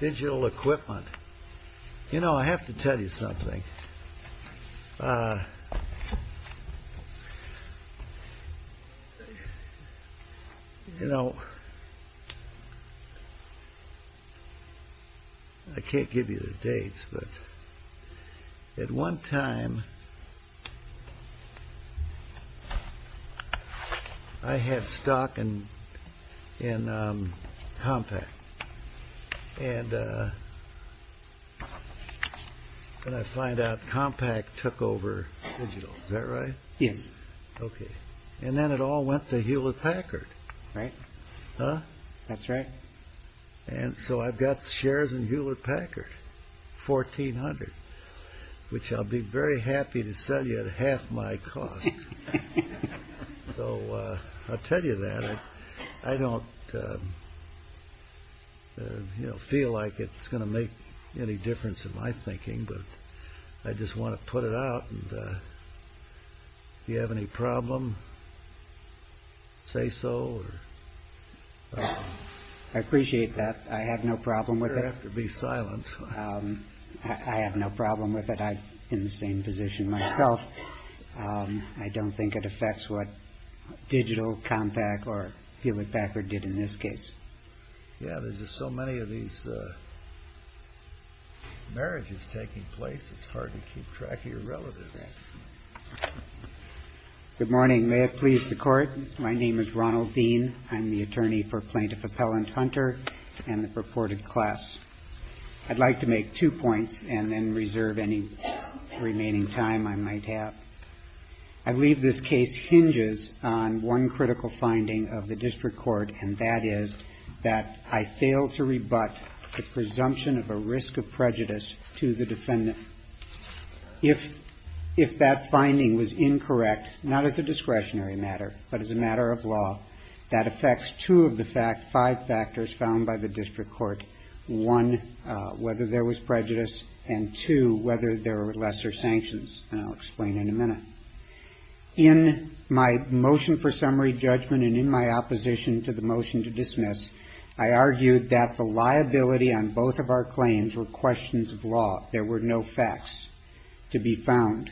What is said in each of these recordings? DIGITAL EQUIPMENT You know, I have to tell you something. You know, I can't give you the dates, but at one time I had stock in Compact. And I find out Compact took over Digital. Is that right? Yes. Okay. And then it all went to Hewlett-Packard. Right. Huh? That's right. And so I've got shares in Hewlett-Packard. Fourteen hundred. Which I'll be very happy to sell you at half my cost. So I'll tell you that. I don't feel like it's going to make any difference in my thinking. But I just want to put it out. If you have any problem, say so. I appreciate that. I have no problem with it. You don't have to be silent. I have no problem with it. I'm in the same position myself. I don't think it affects what Digital, Compact, or Hewlett-Packard did in this case. Yeah, there's just so many of these marriages taking place, it's hard to keep track of your relatives. Good morning. May it please the Court. My name is Ronald Dean. I'm the attorney for Plaintiff Appellant Hunter and the purported class. I'd like to make two points and then reserve any remaining time I might have. I believe this case hinges on one critical finding of the district court, and that is that I failed to rebut the presumption of a risk of prejudice to the defendant. If that finding was incorrect, not as a discretionary matter, but as a matter of law, that affects two of the five factors found by the district court, one, whether there was prejudice, and two, whether there were lesser sanctions, and I'll explain in a minute. In my motion for summary judgment and in my opposition to the motion to dismiss, I argued that the liability on both of our claims were questions of law. There were no facts to be found.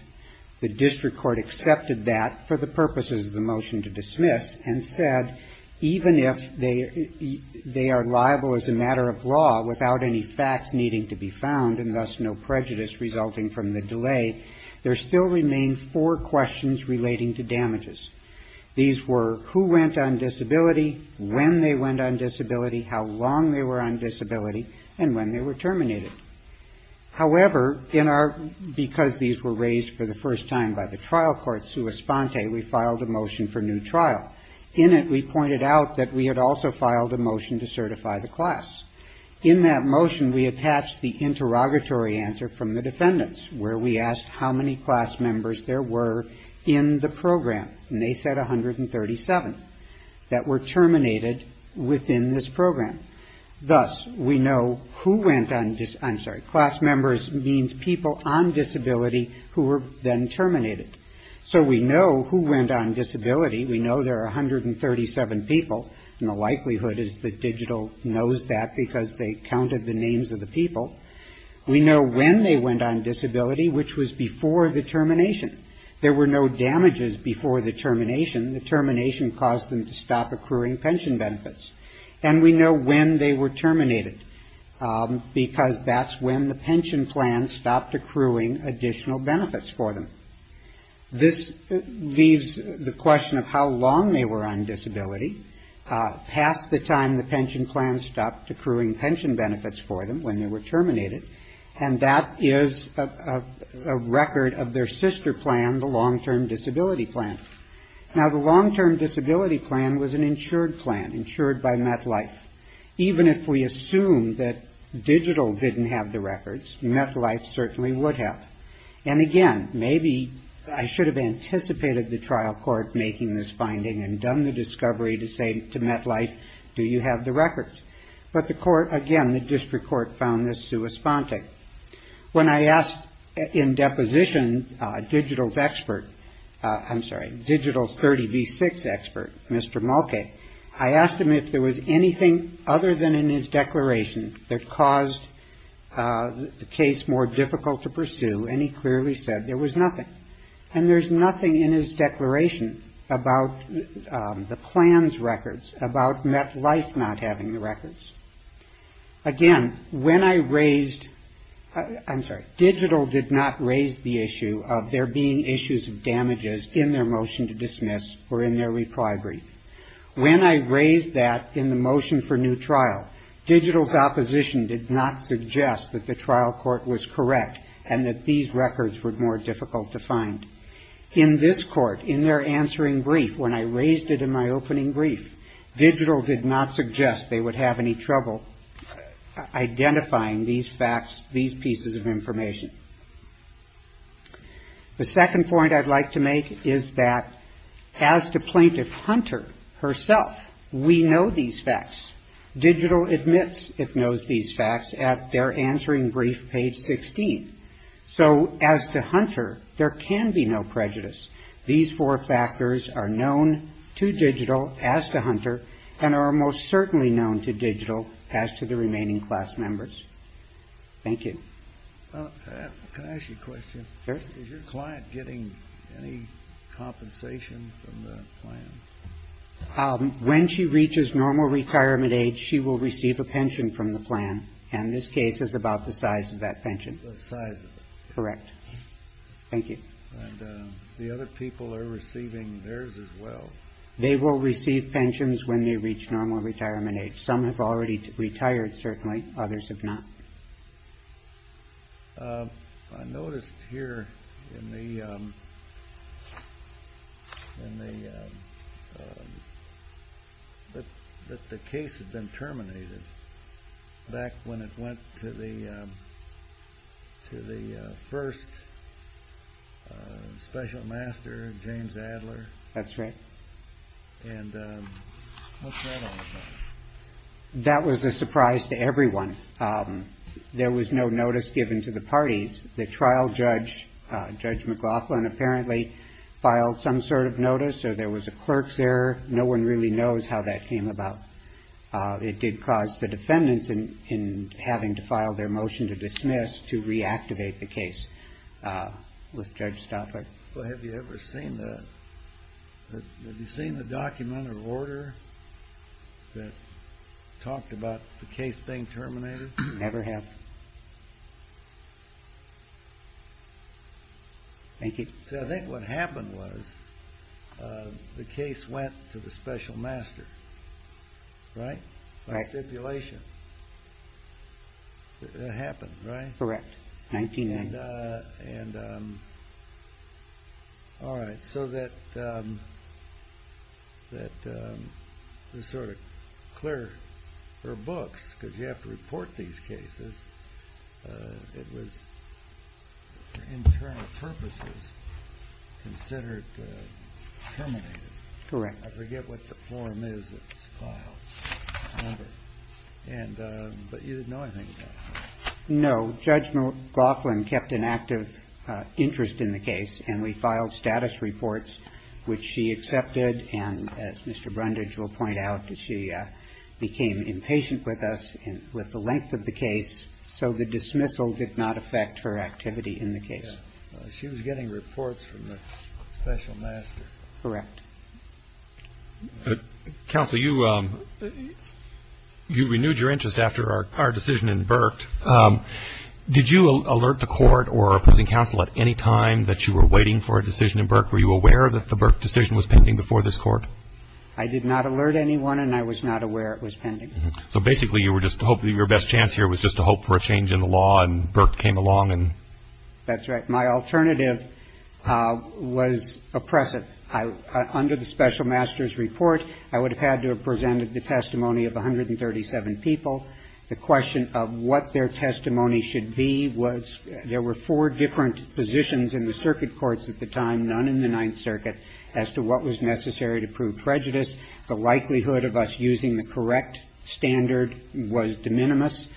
The district court accepted that for the purposes of the motion to dismiss and said, even if they are liable as a matter of law without any facts needing to be found and thus no prejudice resulting from the delay, there still remain four questions relating to damages. These were who went on disability, when they went on disability, how long they were on disability, and when they were terminated. However, because these were raised for the first time by the trial court, we filed a motion for new trial. In it, we pointed out that we had also filed a motion to certify the class. In that motion, we attached the interrogatory answer from the defendants, where we asked how many class members there were in the program, and they said 137, that were terminated within this program. Thus, we know who went on, I'm sorry, class members means people on disability who were then terminated. So we know who went on disability. We know there are 137 people, and the likelihood is that digital knows that because they counted the names of the people. We know when they went on disability, which was before the termination. There were no damages before the termination. The termination caused them to stop accruing pension benefits. And we know when they were terminated, because that's when the pension plan stopped accruing additional benefits for them. This leaves the question of how long they were on disability. Past the time the pension plan stopped accruing pension benefits for them when they were terminated, and that is a record of their sister plan, the long-term disability plan. Now, the long-term disability plan was an insured plan, insured by MetLife. Even if we assume that digital didn't have the records, MetLife certainly would have. And again, maybe I should have anticipated the trial court making this finding and done the discovery to say to MetLife, do you have the records? But the court, again, the district court found this sui sponte. When I asked in deposition digital's expert, I'm sorry, digital's 30B6 expert, Mr. Mulcahy, I asked him if there was anything other than in his declaration that caused the case more difficult to pursue, and he clearly said there was nothing. And there's nothing in his declaration about the plans records, about MetLife not having the records. Again, when I raised, I'm sorry, digital did not raise the issue of there being issues of damages in their motion to dismiss or in their reprieve brief. When I raised that in the motion for new trial, digital's opposition did not suggest that the trial court was correct and that these records were more difficult to find. In this court, in their answering brief, when I raised it in my opening brief, digital did not suggest they would have any trouble identifying these facts, these pieces of information. The second point I'd like to make is that as to plaintiff Hunter herself, we know these facts. Digital admits it knows these facts at their answering brief, page 16. So as to Hunter, there can be no prejudice. These four factors are known to digital as to Hunter and are most certainly known to digital as to the remaining class members. Thank you. Can I ask you a question? Sure. Is your client getting any compensation from the plan? When she reaches normal retirement age, she will receive a pension from the plan, and this case is about the size of that pension. The size of it. Correct. Thank you. And the other people are receiving theirs as well. They will receive pensions when they reach normal retirement age. Some have already retired, certainly. Others have not. I noticed here that the case had been terminated back when it went to the first special master, James Adler. That's right. And what's that all about? That was a surprise to everyone. There was no notice given to the parties. The trial judge, Judge McLaughlin, apparently filed some sort of notice, so there was a clerk's error. No one really knows how that came about. It did cause the defendants in having to file their motion to dismiss to reactivate the case with Judge Stauffer. Well, have you ever seen the document or order that talked about the case being terminated? Never have. Thank you. I think what happened was the case went to the special master, right? By stipulation. That happened, right? Correct. All right. So the sort of clerks or books, because you have to report these cases, it was, for internal purposes, considered terminated. Correct. I forget what the form is that was filed. But you didn't know anything about it? No. Judge McLaughlin kept an active interest in the case, and we filed status reports, which she accepted. And as Mr. Brundage will point out, she became impatient with us with the length of the case, so the dismissal did not affect her activity in the case. She was getting reports from the special master. Counsel, you renewed your interest after our decision in Burt. Did you alert the court or opposing counsel at any time that you were waiting for a decision in Burt? Were you aware that the Burt decision was pending before this Court? I did not alert anyone, and I was not aware it was pending. So basically, you were just hoping your best chance here was just to hope for a change in the law, and Burt came along and? That's right. My alternative was oppressive. Under the special master's report, I would have had to have presented the testimony of 137 people. The question of what their testimony should be was there were four different positions in the circuit courts at the time, none in the Ninth Circuit, as to what was necessary to prove prejudice. The likelihood of us using the correct standard was de minimis.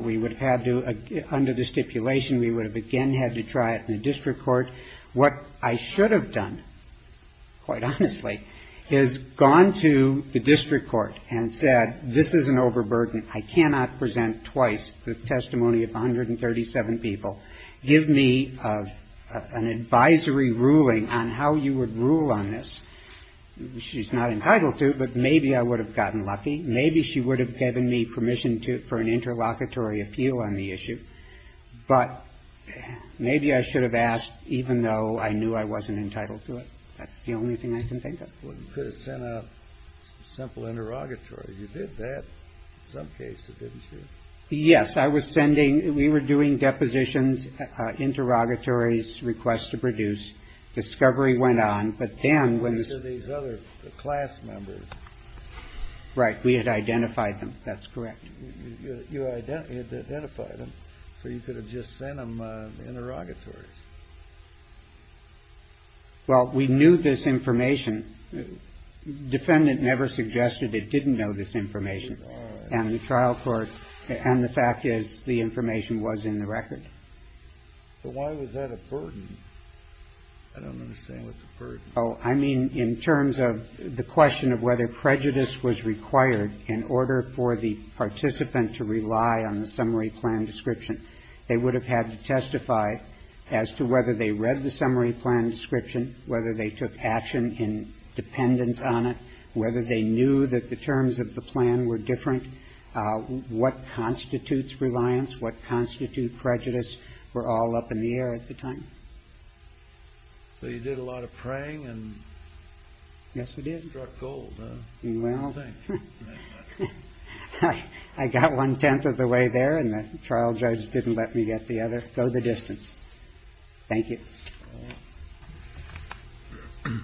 We would have had to, under the stipulation, we would have again had to try it in the district court. What I should have done, quite honestly, is gone to the district court and said, this is an overburden. I cannot present twice the testimony of 137 people. Give me an advisory ruling on how you would rule on this. She's not entitled to, but maybe I would have gotten lucky. Maybe she would have given me permission for an interlocutory appeal on the issue, but maybe I should have asked even though I knew I wasn't entitled to it. That's the only thing I can think of. Well, you could have sent a simple interrogatory. You did that in some cases, didn't you? Yes. I was sending, we were doing depositions, interrogatories, requests to produce. Discovery went on, but then... These other class members. Right. We had identified them. That's correct. You had identified them, but you could have just sent them interrogatories. Well, we knew this information. Defendant never suggested it didn't know this information. And the trial court, and the fact is the information was in the record. So why was that a burden? I don't understand. What's a burden? Oh, I mean in terms of the question of whether prejudice was required in order for the participant to rely on the summary plan description. They would have had to testify as to whether they read the summary plan description, whether they took action in dependence on it, whether they knew that the terms of the plan were different, what constitutes reliance, what constitute prejudice were all up in the air at the time. So you did a lot of praying and... Yes, we did. You got gold, huh? Well, I got one-tenth of the way there and the trial judge didn't let me get the other. Go the distance. Thank you. All right.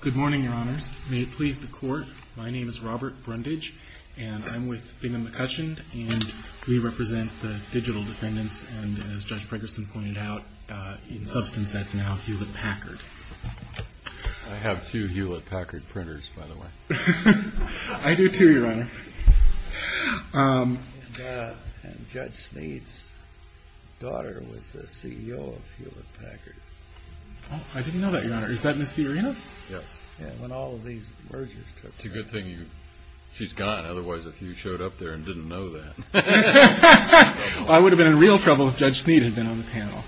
Good morning, Your Honors. May it please the Court. My name is Robert Brundage, and I'm with Bingham & McCutcheon, and we represent the digital defendants. And as Judge Pregerson pointed out, in substance, that's now Hewlett-Packard. I have two Hewlett-Packard printers, by the way. I do, too, Your Honor. And Judge Snead's daughter was the CEO of Hewlett-Packard. I didn't know that, Your Honor. Is that Ms. Fiorina? Yes. Yeah, when all of these mergers took place. It's a good thing she's gone. Otherwise, if you showed up there and didn't know that... I would have been in real trouble if Judge Snead had been on the panel.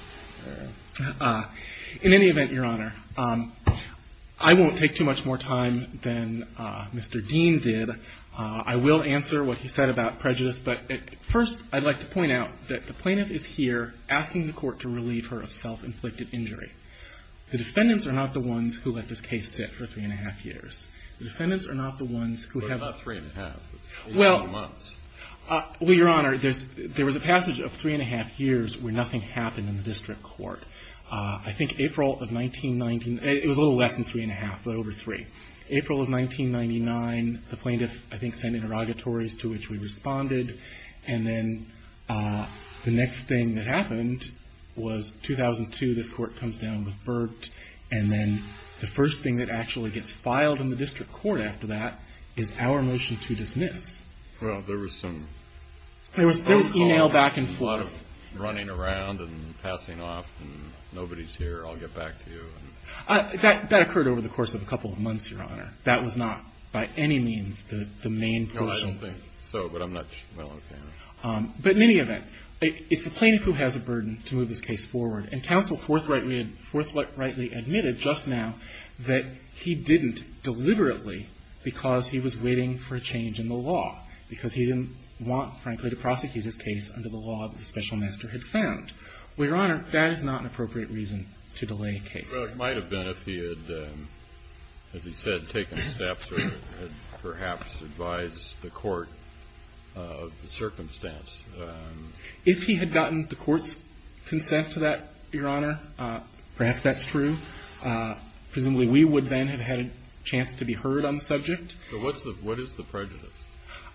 In any event, Your Honor, I won't take too much more time than Mr. Dean did. I will answer what he said about prejudice. But first, I'd like to point out that the plaintiff is here asking the Court to relieve her of self-inflicted injury. The defendants are not the ones who let this case sit for three-and-a-half years. The defendants are not the ones who have... Well, it's not three-and-a-half. It's three-and-a-half months. Well, Your Honor, there was a passage of three-and-a-half years where nothing happened in the district court. I think April of 19... It was a little less than three-and-a-half, but over three. April of 1999, the plaintiff, I think, sent interrogatories to which we responded. And then the next thing that happened was 2002. This Court comes down with Burt. And then the first thing that actually gets filed in the district court after that is our motion to dismiss. Well, there was some... There was email back and forth. ...running around and passing off, and nobody's here, I'll get back to you. That occurred over the course of a couple of months, Your Honor. That was not by any means the main... No, I don't think so, but I'm not... But in any event, it's the plaintiff who has a burden to move this case forward. And counsel forthrightly admitted just now that he didn't deliberately, because he was waiting for a change in the law, because he didn't want, frankly, to prosecute his case under the law that the Special Master had found. Well, Your Honor, that is not an appropriate reason to delay a case. Well, it might have been if he had, as he said, taken steps or had perhaps advised the court of the circumstance. If he had gotten the court's consent to that, Your Honor, perhaps that's true. Presumably, we would then have had a chance to be heard on the subject. But what's the – what is the prejudice?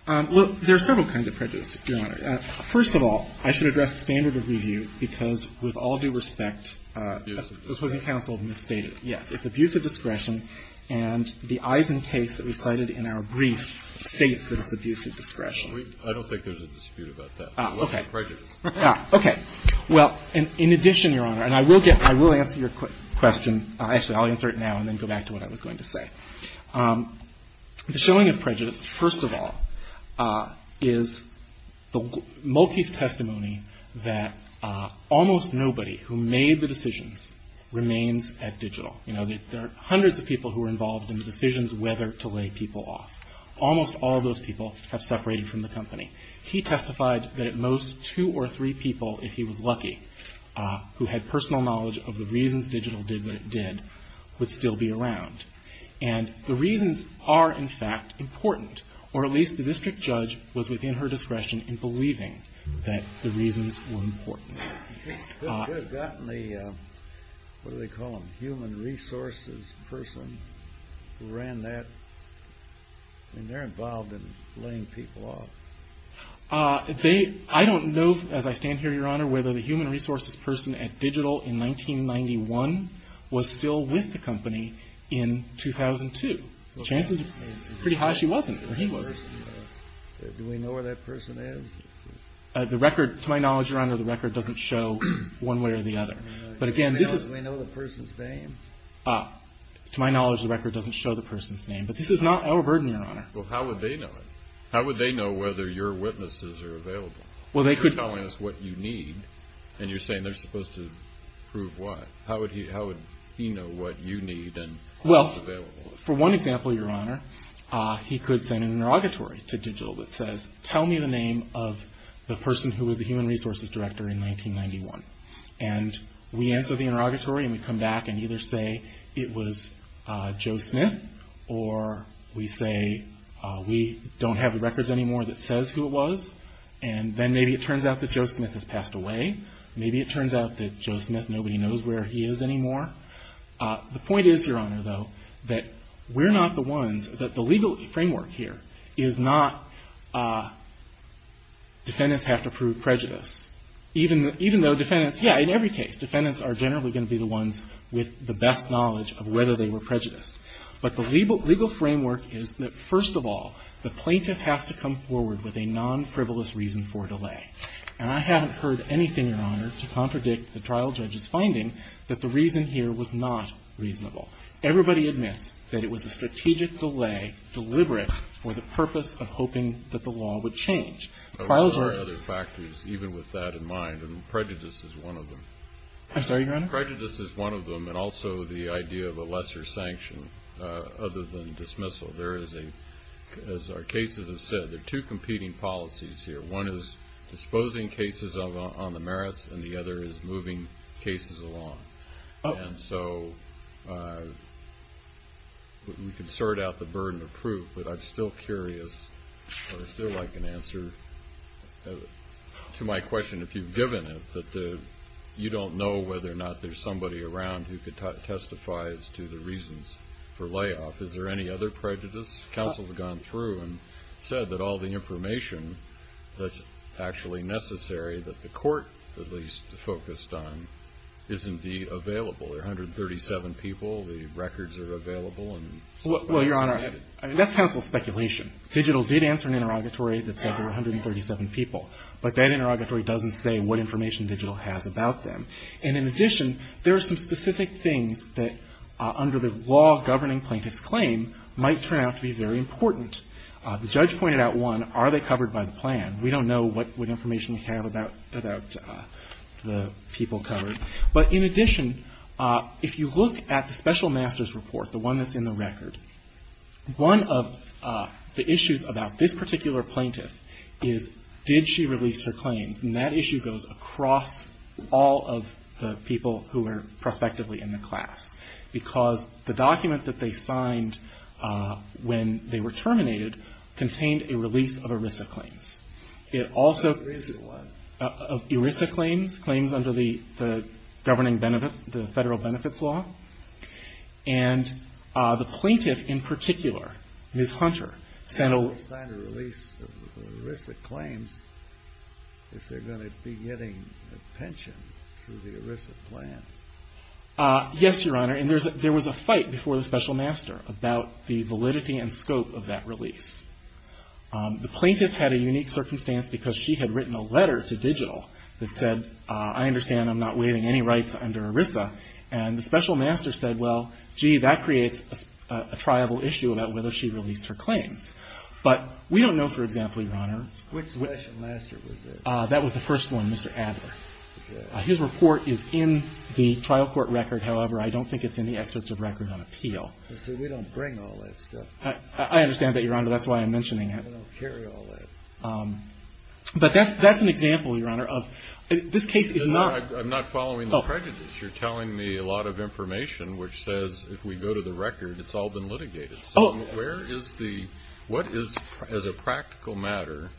Well, there are several kinds of prejudice, Your Honor. First of all, I should address the standard of review, because with all due respect... Abuse of discretion. ...the opposing counsel misstated. Yes. It's abuse of discretion, and the Eisen case that we cited in our brief states that it's abuse of discretion. I don't think there's a dispute about that. Okay. It's prejudice. Okay. Well, in addition, Your Honor, and I will get – I will answer your question. Actually, I'll answer it now and then go back to what I was going to say. The showing of prejudice, first of all, is the Maltese testimony that almost nobody who made the decisions remains at Digital. You know, there are hundreds of people who were involved in the decisions whether to lay people off. Almost all of those people have separated from the company. He testified that at most two or three people, if he was lucky, who had personal knowledge of the reasons Digital did what it did, would still be around. And the reasons are, in fact, important, or at least the district judge was within her discretion in believing that the reasons were important. You could have gotten the – what do they call them? Human resources person who ran that. I mean, they're involved in laying people off. They – I don't know, as I stand here, Your Honor, whether the human resources person at Digital in 1991 was still with the company in 2002. Chances are pretty high she wasn't or he wasn't. Do we know where that person is? The record – to my knowledge, Your Honor, the record doesn't show one way or the other. But, again, this is – Do we know the person's name? To my knowledge, the record doesn't show the person's name. But this is not our burden, Your Honor. Well, how would they know it? How would they know whether your witnesses are available? Well, they could – You're telling us what you need, and you're saying they're supposed to prove what. How would he know what you need and what's available? Well, for one example, Your Honor, he could send an interrogatory to Digital that says, tell me the name of the person who was the human resources director in 1991. And we answer the interrogatory and we come back and either say it was Joe Smith or we say we don't have the records anymore that says who it was. And then maybe it turns out that Joe Smith has passed away. Maybe it turns out that Joe Smith, nobody knows where he is anymore. The point is, Your Honor, though, that we're not the ones – that the legal framework here is not defendants have to prove prejudice. Even though defendants – yeah, in every case, defendants are generally going to be the ones with the best knowledge of whether they were prejudiced. But the legal framework is that, first of all, the plaintiff has to come forward with a non-frivolous reason for delay. And I haven't heard anything, Your Honor, to contradict the trial judge's finding that the reason here was not reasonable. Everybody admits that it was a strategic delay deliberate for the purpose of hoping that the law would change. There are other factors, even with that in mind, and prejudice is one of them. I'm sorry, Your Honor? Prejudice is one of them and also the idea of a lesser sanction other than dismissal. There is a – as our cases have said, there are two competing policies here. One is disposing cases on the merits and the other is moving cases along. And so we can sort out the burden of proof, but I'm still curious or I still like an answer to my question, if you've given it, that you don't know whether or not there's somebody around who could testify as to the reasons for layoff. Is there any other prejudice? Counsel has gone through and said that all the information that's actually necessary, that the court at least focused on, is indeed available. There are 137 people. The records are available. Well, Your Honor, that's counsel's speculation. Digital did answer an interrogatory that said there were 137 people, but that interrogatory doesn't say what information Digital has about them. And in addition, there are some specific things that, under the law governing plaintiff's claim, might turn out to be very important. The judge pointed out, one, are they covered by the plan? We don't know what information we have about the people covered. But in addition, if you look at the special master's report, the one that's in the record, one of the issues about this particular plaintiff is, did she release her claims? And that issue goes across all of the people who are prospectively in the class. Because the document that they signed when they were terminated contained a release of ERISA claims. It also of ERISA claims, claims under the governing benefits, the federal benefits law. And the plaintiff in particular, Ms. Hunter, sent a- They signed a release of ERISA claims if they're going to be getting a pension through the ERISA plan. Yes, Your Honor. And there was a fight before the special master about the validity and scope of that release. The plaintiff had a unique circumstance because she had written a letter to Digital that said, I understand I'm not waiving any rights under ERISA. And the special master said, well, gee, that creates a triable issue about whether she released her claims. But we don't know, for example, Your Honor- Which special master was it? That was the first one, Mr. Adler. Okay. His report is in the trial court record. However, I don't think it's in the excerpts of record on appeal. See, we don't bring all that stuff. I understand that, Your Honor. That's why I'm mentioning it. We don't carry all that. But that's an example, Your Honor, of this case is not- I'm not following the prejudice. You're telling me a lot of information which says if we go to the record, it's all been litigated. So where is the- what is, as a practical matter-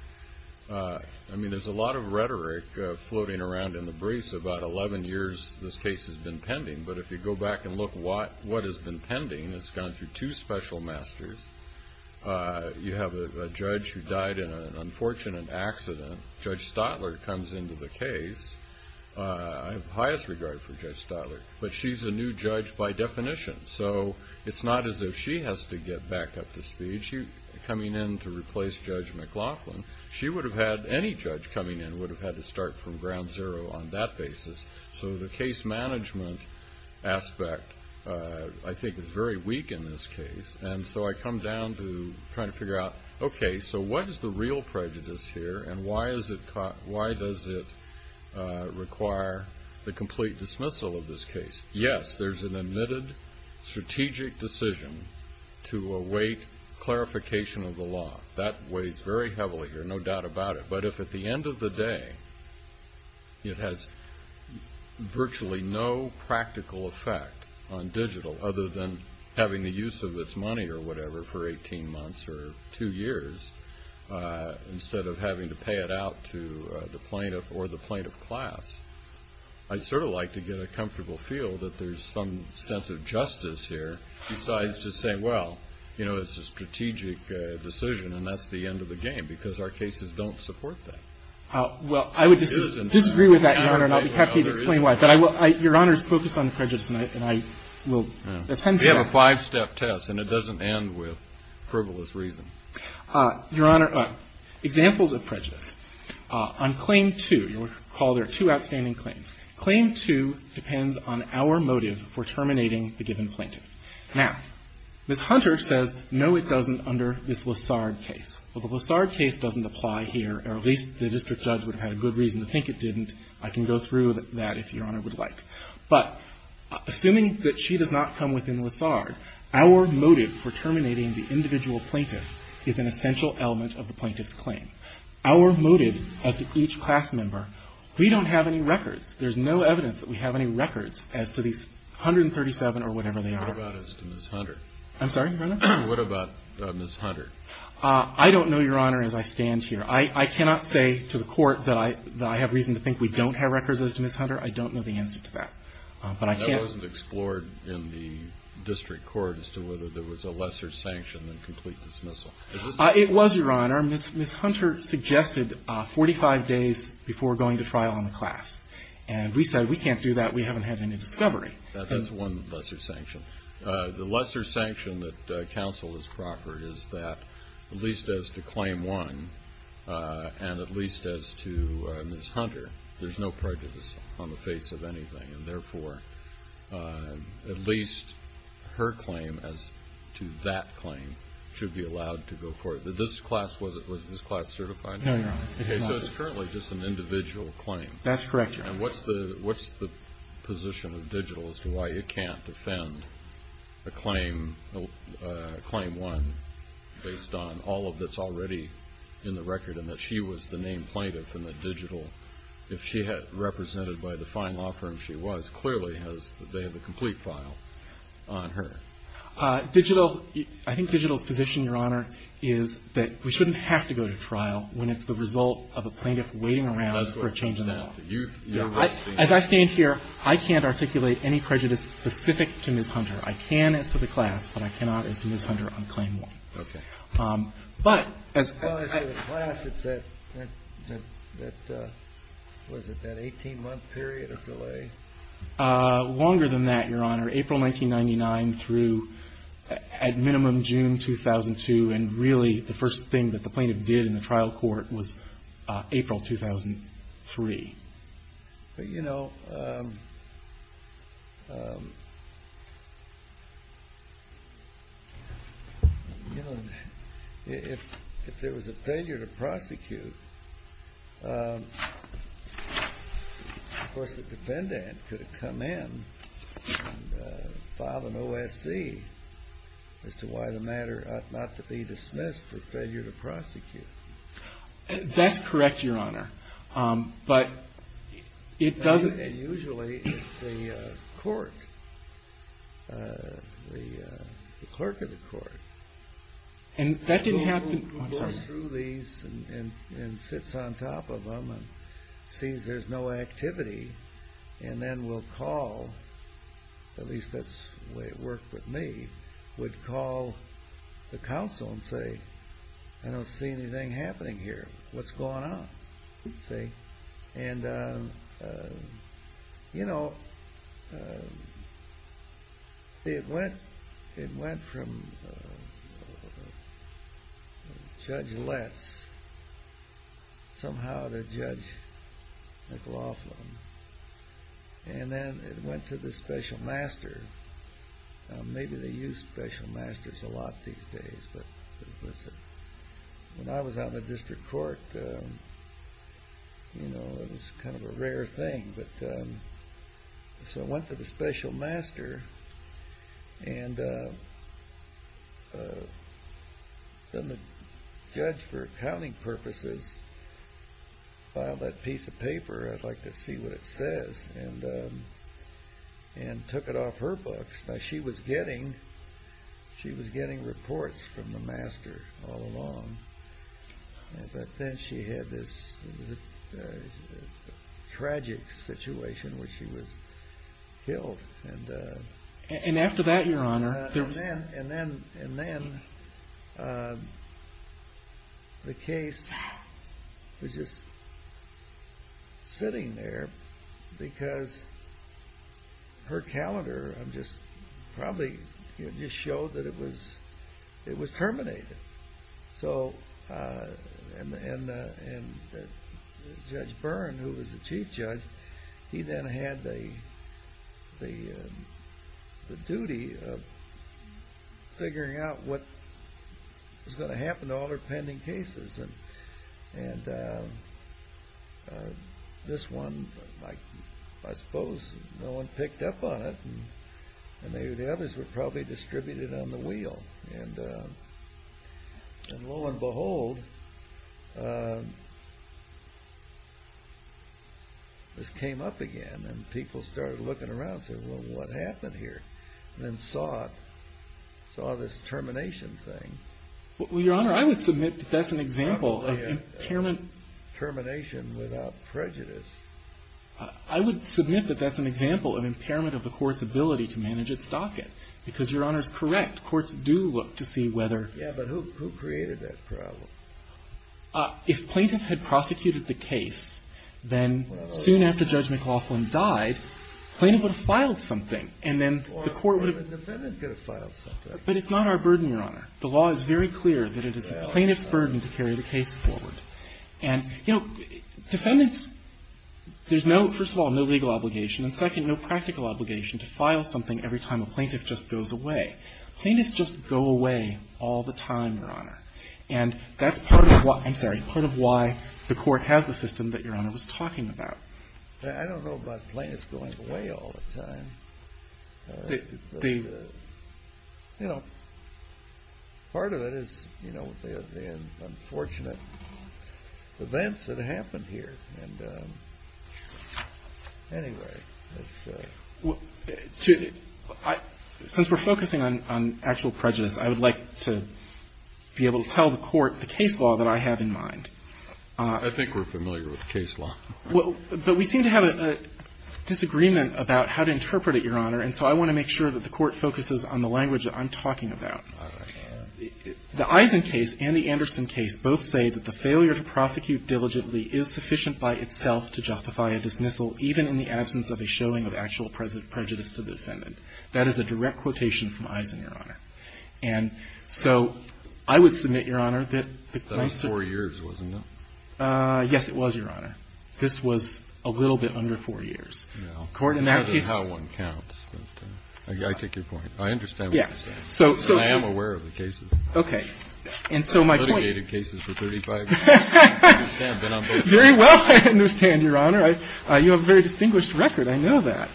I mean, there's a lot of rhetoric floating around in the briefs. About 11 years this case has been pending. But if you go back and look what has been pending, it's gone through two special masters. You have a judge who died in an unfortunate accident. Judge Stotler comes into the case. I have the highest regard for Judge Stotler. But she's a new judge by definition. So it's not as if she has to get back up to speed. She's coming in to replace Judge McLaughlin. She would have had- any judge coming in would have had to start from ground zero on that basis. So the case management aspect, I think, is very weak in this case. And so I come down to trying to figure out, okay, so what is the real prejudice here? And why does it require the complete dismissal of this case? Yes, there's an admitted strategic decision to await clarification of the law. That weighs very heavily here, no doubt about it. But if at the end of the day it has virtually no practical effect on digital, other than having the use of its money or whatever for 18 months or two years, instead of having to pay it out to the plaintiff or the plaintiff class, I'd sort of like to get a comfortable feel that there's some sense of justice here, besides just saying, well, you know, it's a strategic decision, and that's the end of the game because our cases don't support that. Well, I would disagree with that, Your Honor, and I'll be happy to explain why. But I will- Your Honor is focused on the prejudice, and I will- We have a five-step test, and it doesn't end with frivolous reason. Your Honor, examples of prejudice. On Claim 2, you'll recall there are two outstanding claims. Claim 2 depends on our motive for terminating the given plaintiff. Now, Ms. Hunter says, no, it doesn't, under this Lessard case. Well, the Lessard case doesn't apply here, or at least the district judge would have had a good reason to think it didn't. I can go through that if Your Honor would like. Our motive as to each class member, we don't have any records. There's no evidence that we have any records as to these 137 or whatever they are. What about as to Ms. Hunter? I'm sorry, Your Honor? What about Ms. Hunter? I don't know, Your Honor, as I stand here. I cannot say to the Court that I have reason to think we don't have records as to Ms. Hunter. I don't know the answer to that. But I can- It wasn't explored in the district court as to whether there was a lesser sanction than complete dismissal. It was, Your Honor. Ms. Hunter suggested 45 days before going to trial on the class. And we said, we can't do that. We haven't had any discovery. That's one lesser sanction. The lesser sanction that counsel has proffered is that at least as to Claim 1 and at least as to Ms. Hunter, there's no prejudice on the face of anything. And therefore, at least her claim as to that claim should be allowed to go forward. But this class, was this class certified? No, Your Honor. It's not. Okay. So it's currently just an individual claim. That's correct, Your Honor. And what's the position of digital as to why you can't defend a Claim 1 based on all that's already in the record and that she was the named plaintiff and that digital, if she had represented by the fine law firm she was, clearly has the complete file on her? Digital, I think digital's position, Your Honor, is that we shouldn't have to go to trial when it's the result of a plaintiff waiting around for a change in the law. As I stand here, I can't articulate any prejudice specific to Ms. Hunter. I can as to the class, but I cannot as to Ms. Hunter on Claim 1. Okay. But as far as the class, it's that, what is it, that 18-month period of delay? Longer than that, Your Honor. April 1999 through, at minimum, June 2002. And really, the first thing that the plaintiff did in the trial court was April 2003. But, you know, if there was a failure to prosecute, of course, the defendant could have come in and filed an OSC as to why the matter ought not to be dismissed for failure to prosecute. That's correct, Your Honor, but it doesn't... And usually it's the court, the clerk of the court. And that didn't happen... The person who goes through these and sits on top of them and sees there's no activity and then will call, at least that's the way it worked with me, would call the counsel and say, I don't see anything happening here. What's going on? And, you know, it went from Judge Letts somehow to Judge McLaughlin. And then it went to the special master. Maybe they use special masters a lot these days. But, listen, when I was out in the district court, you know, it was kind of a rare thing. So it went to the special master and then the judge, for accounting purposes, filed that piece of paper, I'd like to see what it says, and took it off her books. Now, she was getting reports from the master all along, but then she had this tragic situation where she was killed. And after that, Your Honor, there was... Because her calendar probably just showed that it was terminated. And Judge Byrne, who was the chief judge, he then had the duty of figuring out what was going to happen to all her pending cases. And this one, I suppose, no one picked up on it. And the others were probably distributed on the wheel. And lo and behold, this came up again. And people started looking around and said, well, what happened here? And then saw this termination thing. Well, Your Honor, I would submit that that's an example of impairment... Termination without prejudice. I would submit that that's an example of impairment of the court's ability to manage its docket. Because, Your Honor, it's correct, courts do look to see whether... Yeah, but who created that problem? If plaintiff had prosecuted the case, then soon after Judge McLaughlin died, plaintiff would have filed something, and then the court would have... Or a defendant could have filed something. But it's not our burden, Your Honor. The law is very clear that it is the plaintiff's burden to carry the case forward. And, you know, defendants, there's no, first of all, no legal obligation, and second, no practical obligation to file something every time a plaintiff just goes away. Plaintiffs just go away all the time, Your Honor. And that's part of why... I'm sorry. Part of why the court has the system that Your Honor was talking about. I don't know about plaintiffs going away all the time. You know, part of it is, you know, the unfortunate events that happened here. And anyway, it's... Since we're focusing on actual prejudice, I would like to be able to tell the court the case law that I have in mind. I think we're familiar with the case law. But we seem to have a disagreement about how to interpret it, Your Honor, and so I want to make sure that the court focuses on the language that I'm talking about. The Eisen case and the Anderson case both say that the failure to prosecute diligently is sufficient by itself to justify a dismissal, even in the absence of a showing of actual prejudice to the defendant. That is a direct quotation from Eisen, Your Honor. And so I would submit, Your Honor, that the plaintiffs... That was four years, wasn't it? Yes, it was, Your Honor. This was a little bit under four years. And so I would like to be able to tell the court the case law that I have in mind. And so I would submit, Your Honor, that the plaintiffs... No. That is how one counts. I take your point. I understand what you're saying. I am aware of the cases. Okay. And so my point... I've litigated cases for 35 years. I understand, but I'm both... Very well, I understand, Your Honor. You have a very distinguished record. I know that.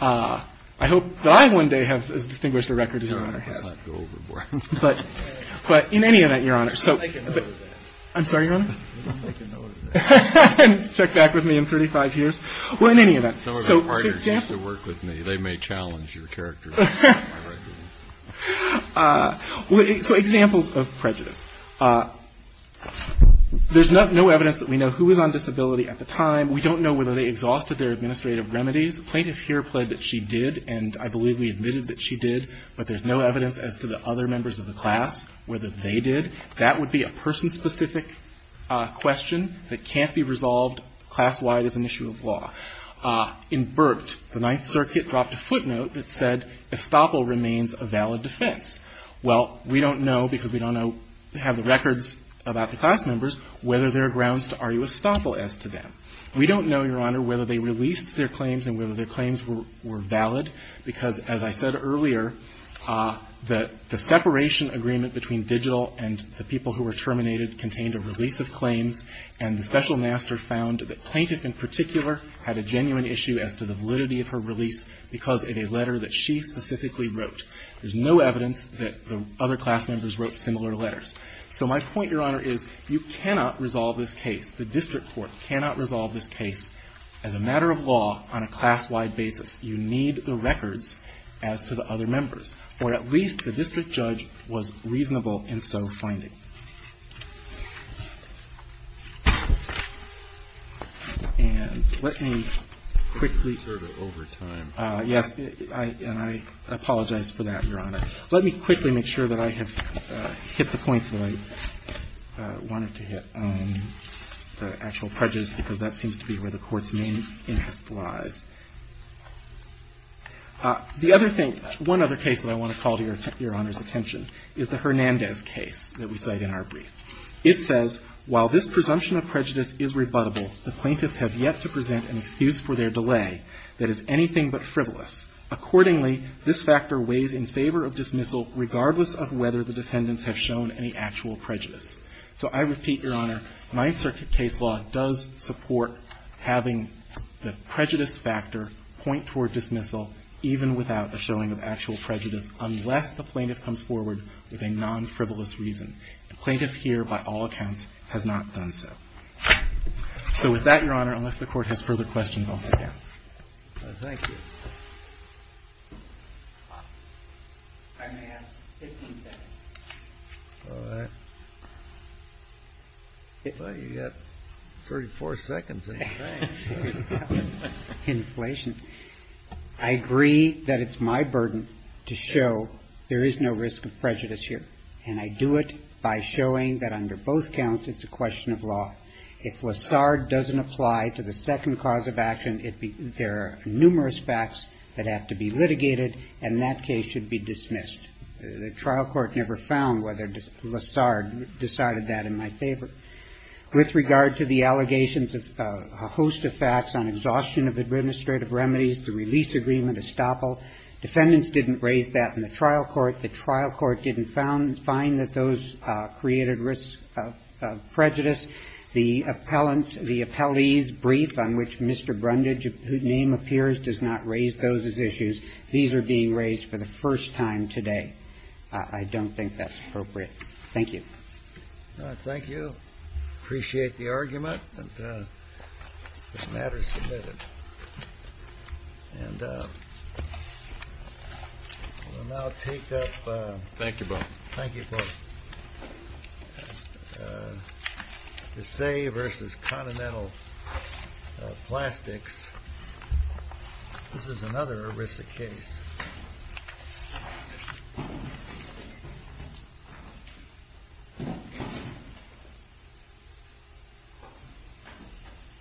I hope that I one day have as distinguished a record as Your Honor has. I'm not going overboard. But in any event, Your Honor, so... I can know that. I'm sorry, Your Honor? I can know that. And check back with me in 35 years? Well, in any event, so... Some of my partners used to work with me. They may challenge your character. So examples of prejudice. There's no evidence that we know who was on disability at the time. We don't know whether they exhausted their administrative remedies. The plaintiff here pled that she did, and I believe we admitted that she did. But there's no evidence as to the other members of the class whether they did. That would be a person-specific question that can't be resolved class-wide as an issue of law. In Burt, the Ninth Circuit dropped a footnote that said estoppel remains a valid defense. Well, we don't know, because we don't have the records about the class members, whether there are grounds to argue estoppel as to that. We don't know, Your Honor, whether they released their claims and whether their claims were valid, because as I said earlier, the separation agreement between digital and the people who were terminated contained a release of claims, and the special master found that the plaintiff in particular had a genuine issue as to the validity of her release because of a letter that she specifically wrote. There's no evidence that the other class members wrote similar letters. So my point, Your Honor, is you cannot resolve this case, the district court cannot resolve this case as a matter of law on a class-wide basis. You need the records as to the other members, or at least the district judge was reasonable in so finding. And let me quickly go to overtime. Yes. And I apologize for that, Your Honor. Let me quickly make sure that I have hit the points that I wanted to hit, the actual prejudice, because that seems to be where the Court's main interest lies. The other thing, one other case that I want to call to Your Honor's attention is the Hernandez case that we cite in our brief. It says, While this presumption of prejudice is rebuttable, the plaintiffs have yet to present an excuse for their delay that is anything but frivolous. Accordingly, this factor weighs in favor of dismissal regardless of whether the defendants have shown any actual prejudice. So I repeat, Your Honor, Ninth Circuit case law does support having the prejudice factor point toward dismissal even without the showing of actual prejudice unless the plaintiff comes forward with a non-frivolous reason. The plaintiff here, by all accounts, has not done so. So with that, Your Honor, unless the Court has further questions, I'll sit down. Thank you. I may have 15 seconds. All right. Well, you've got 34 seconds, I think. Inflation. I agree that it's my burden to show there is no risk of prejudice here. And I do it by showing that under both counts it's a question of law. If Lassard doesn't apply to the second cause of action, there are numerous facts that have to be litigated, and that case should be dismissed. The trial court never found whether Lassard decided that in my favor. With regard to the allegations of a host of facts on exhaustion of administrative remedies, the release agreement estoppel, defendants didn't raise that in the trial court, the trial court didn't find that those created risk of prejudice. The appellant's, the appellee's brief on which Mr. Brundage, whose name appears, does not raise those as issues, these are being raised for the first time today. I don't think that's appropriate. Thank you. Thank you. Appreciate the argument. This matter is submitted. And we'll now take up. Thank you both. Thank you both. The Sey versus Continental Plastics. This is another ERISA case.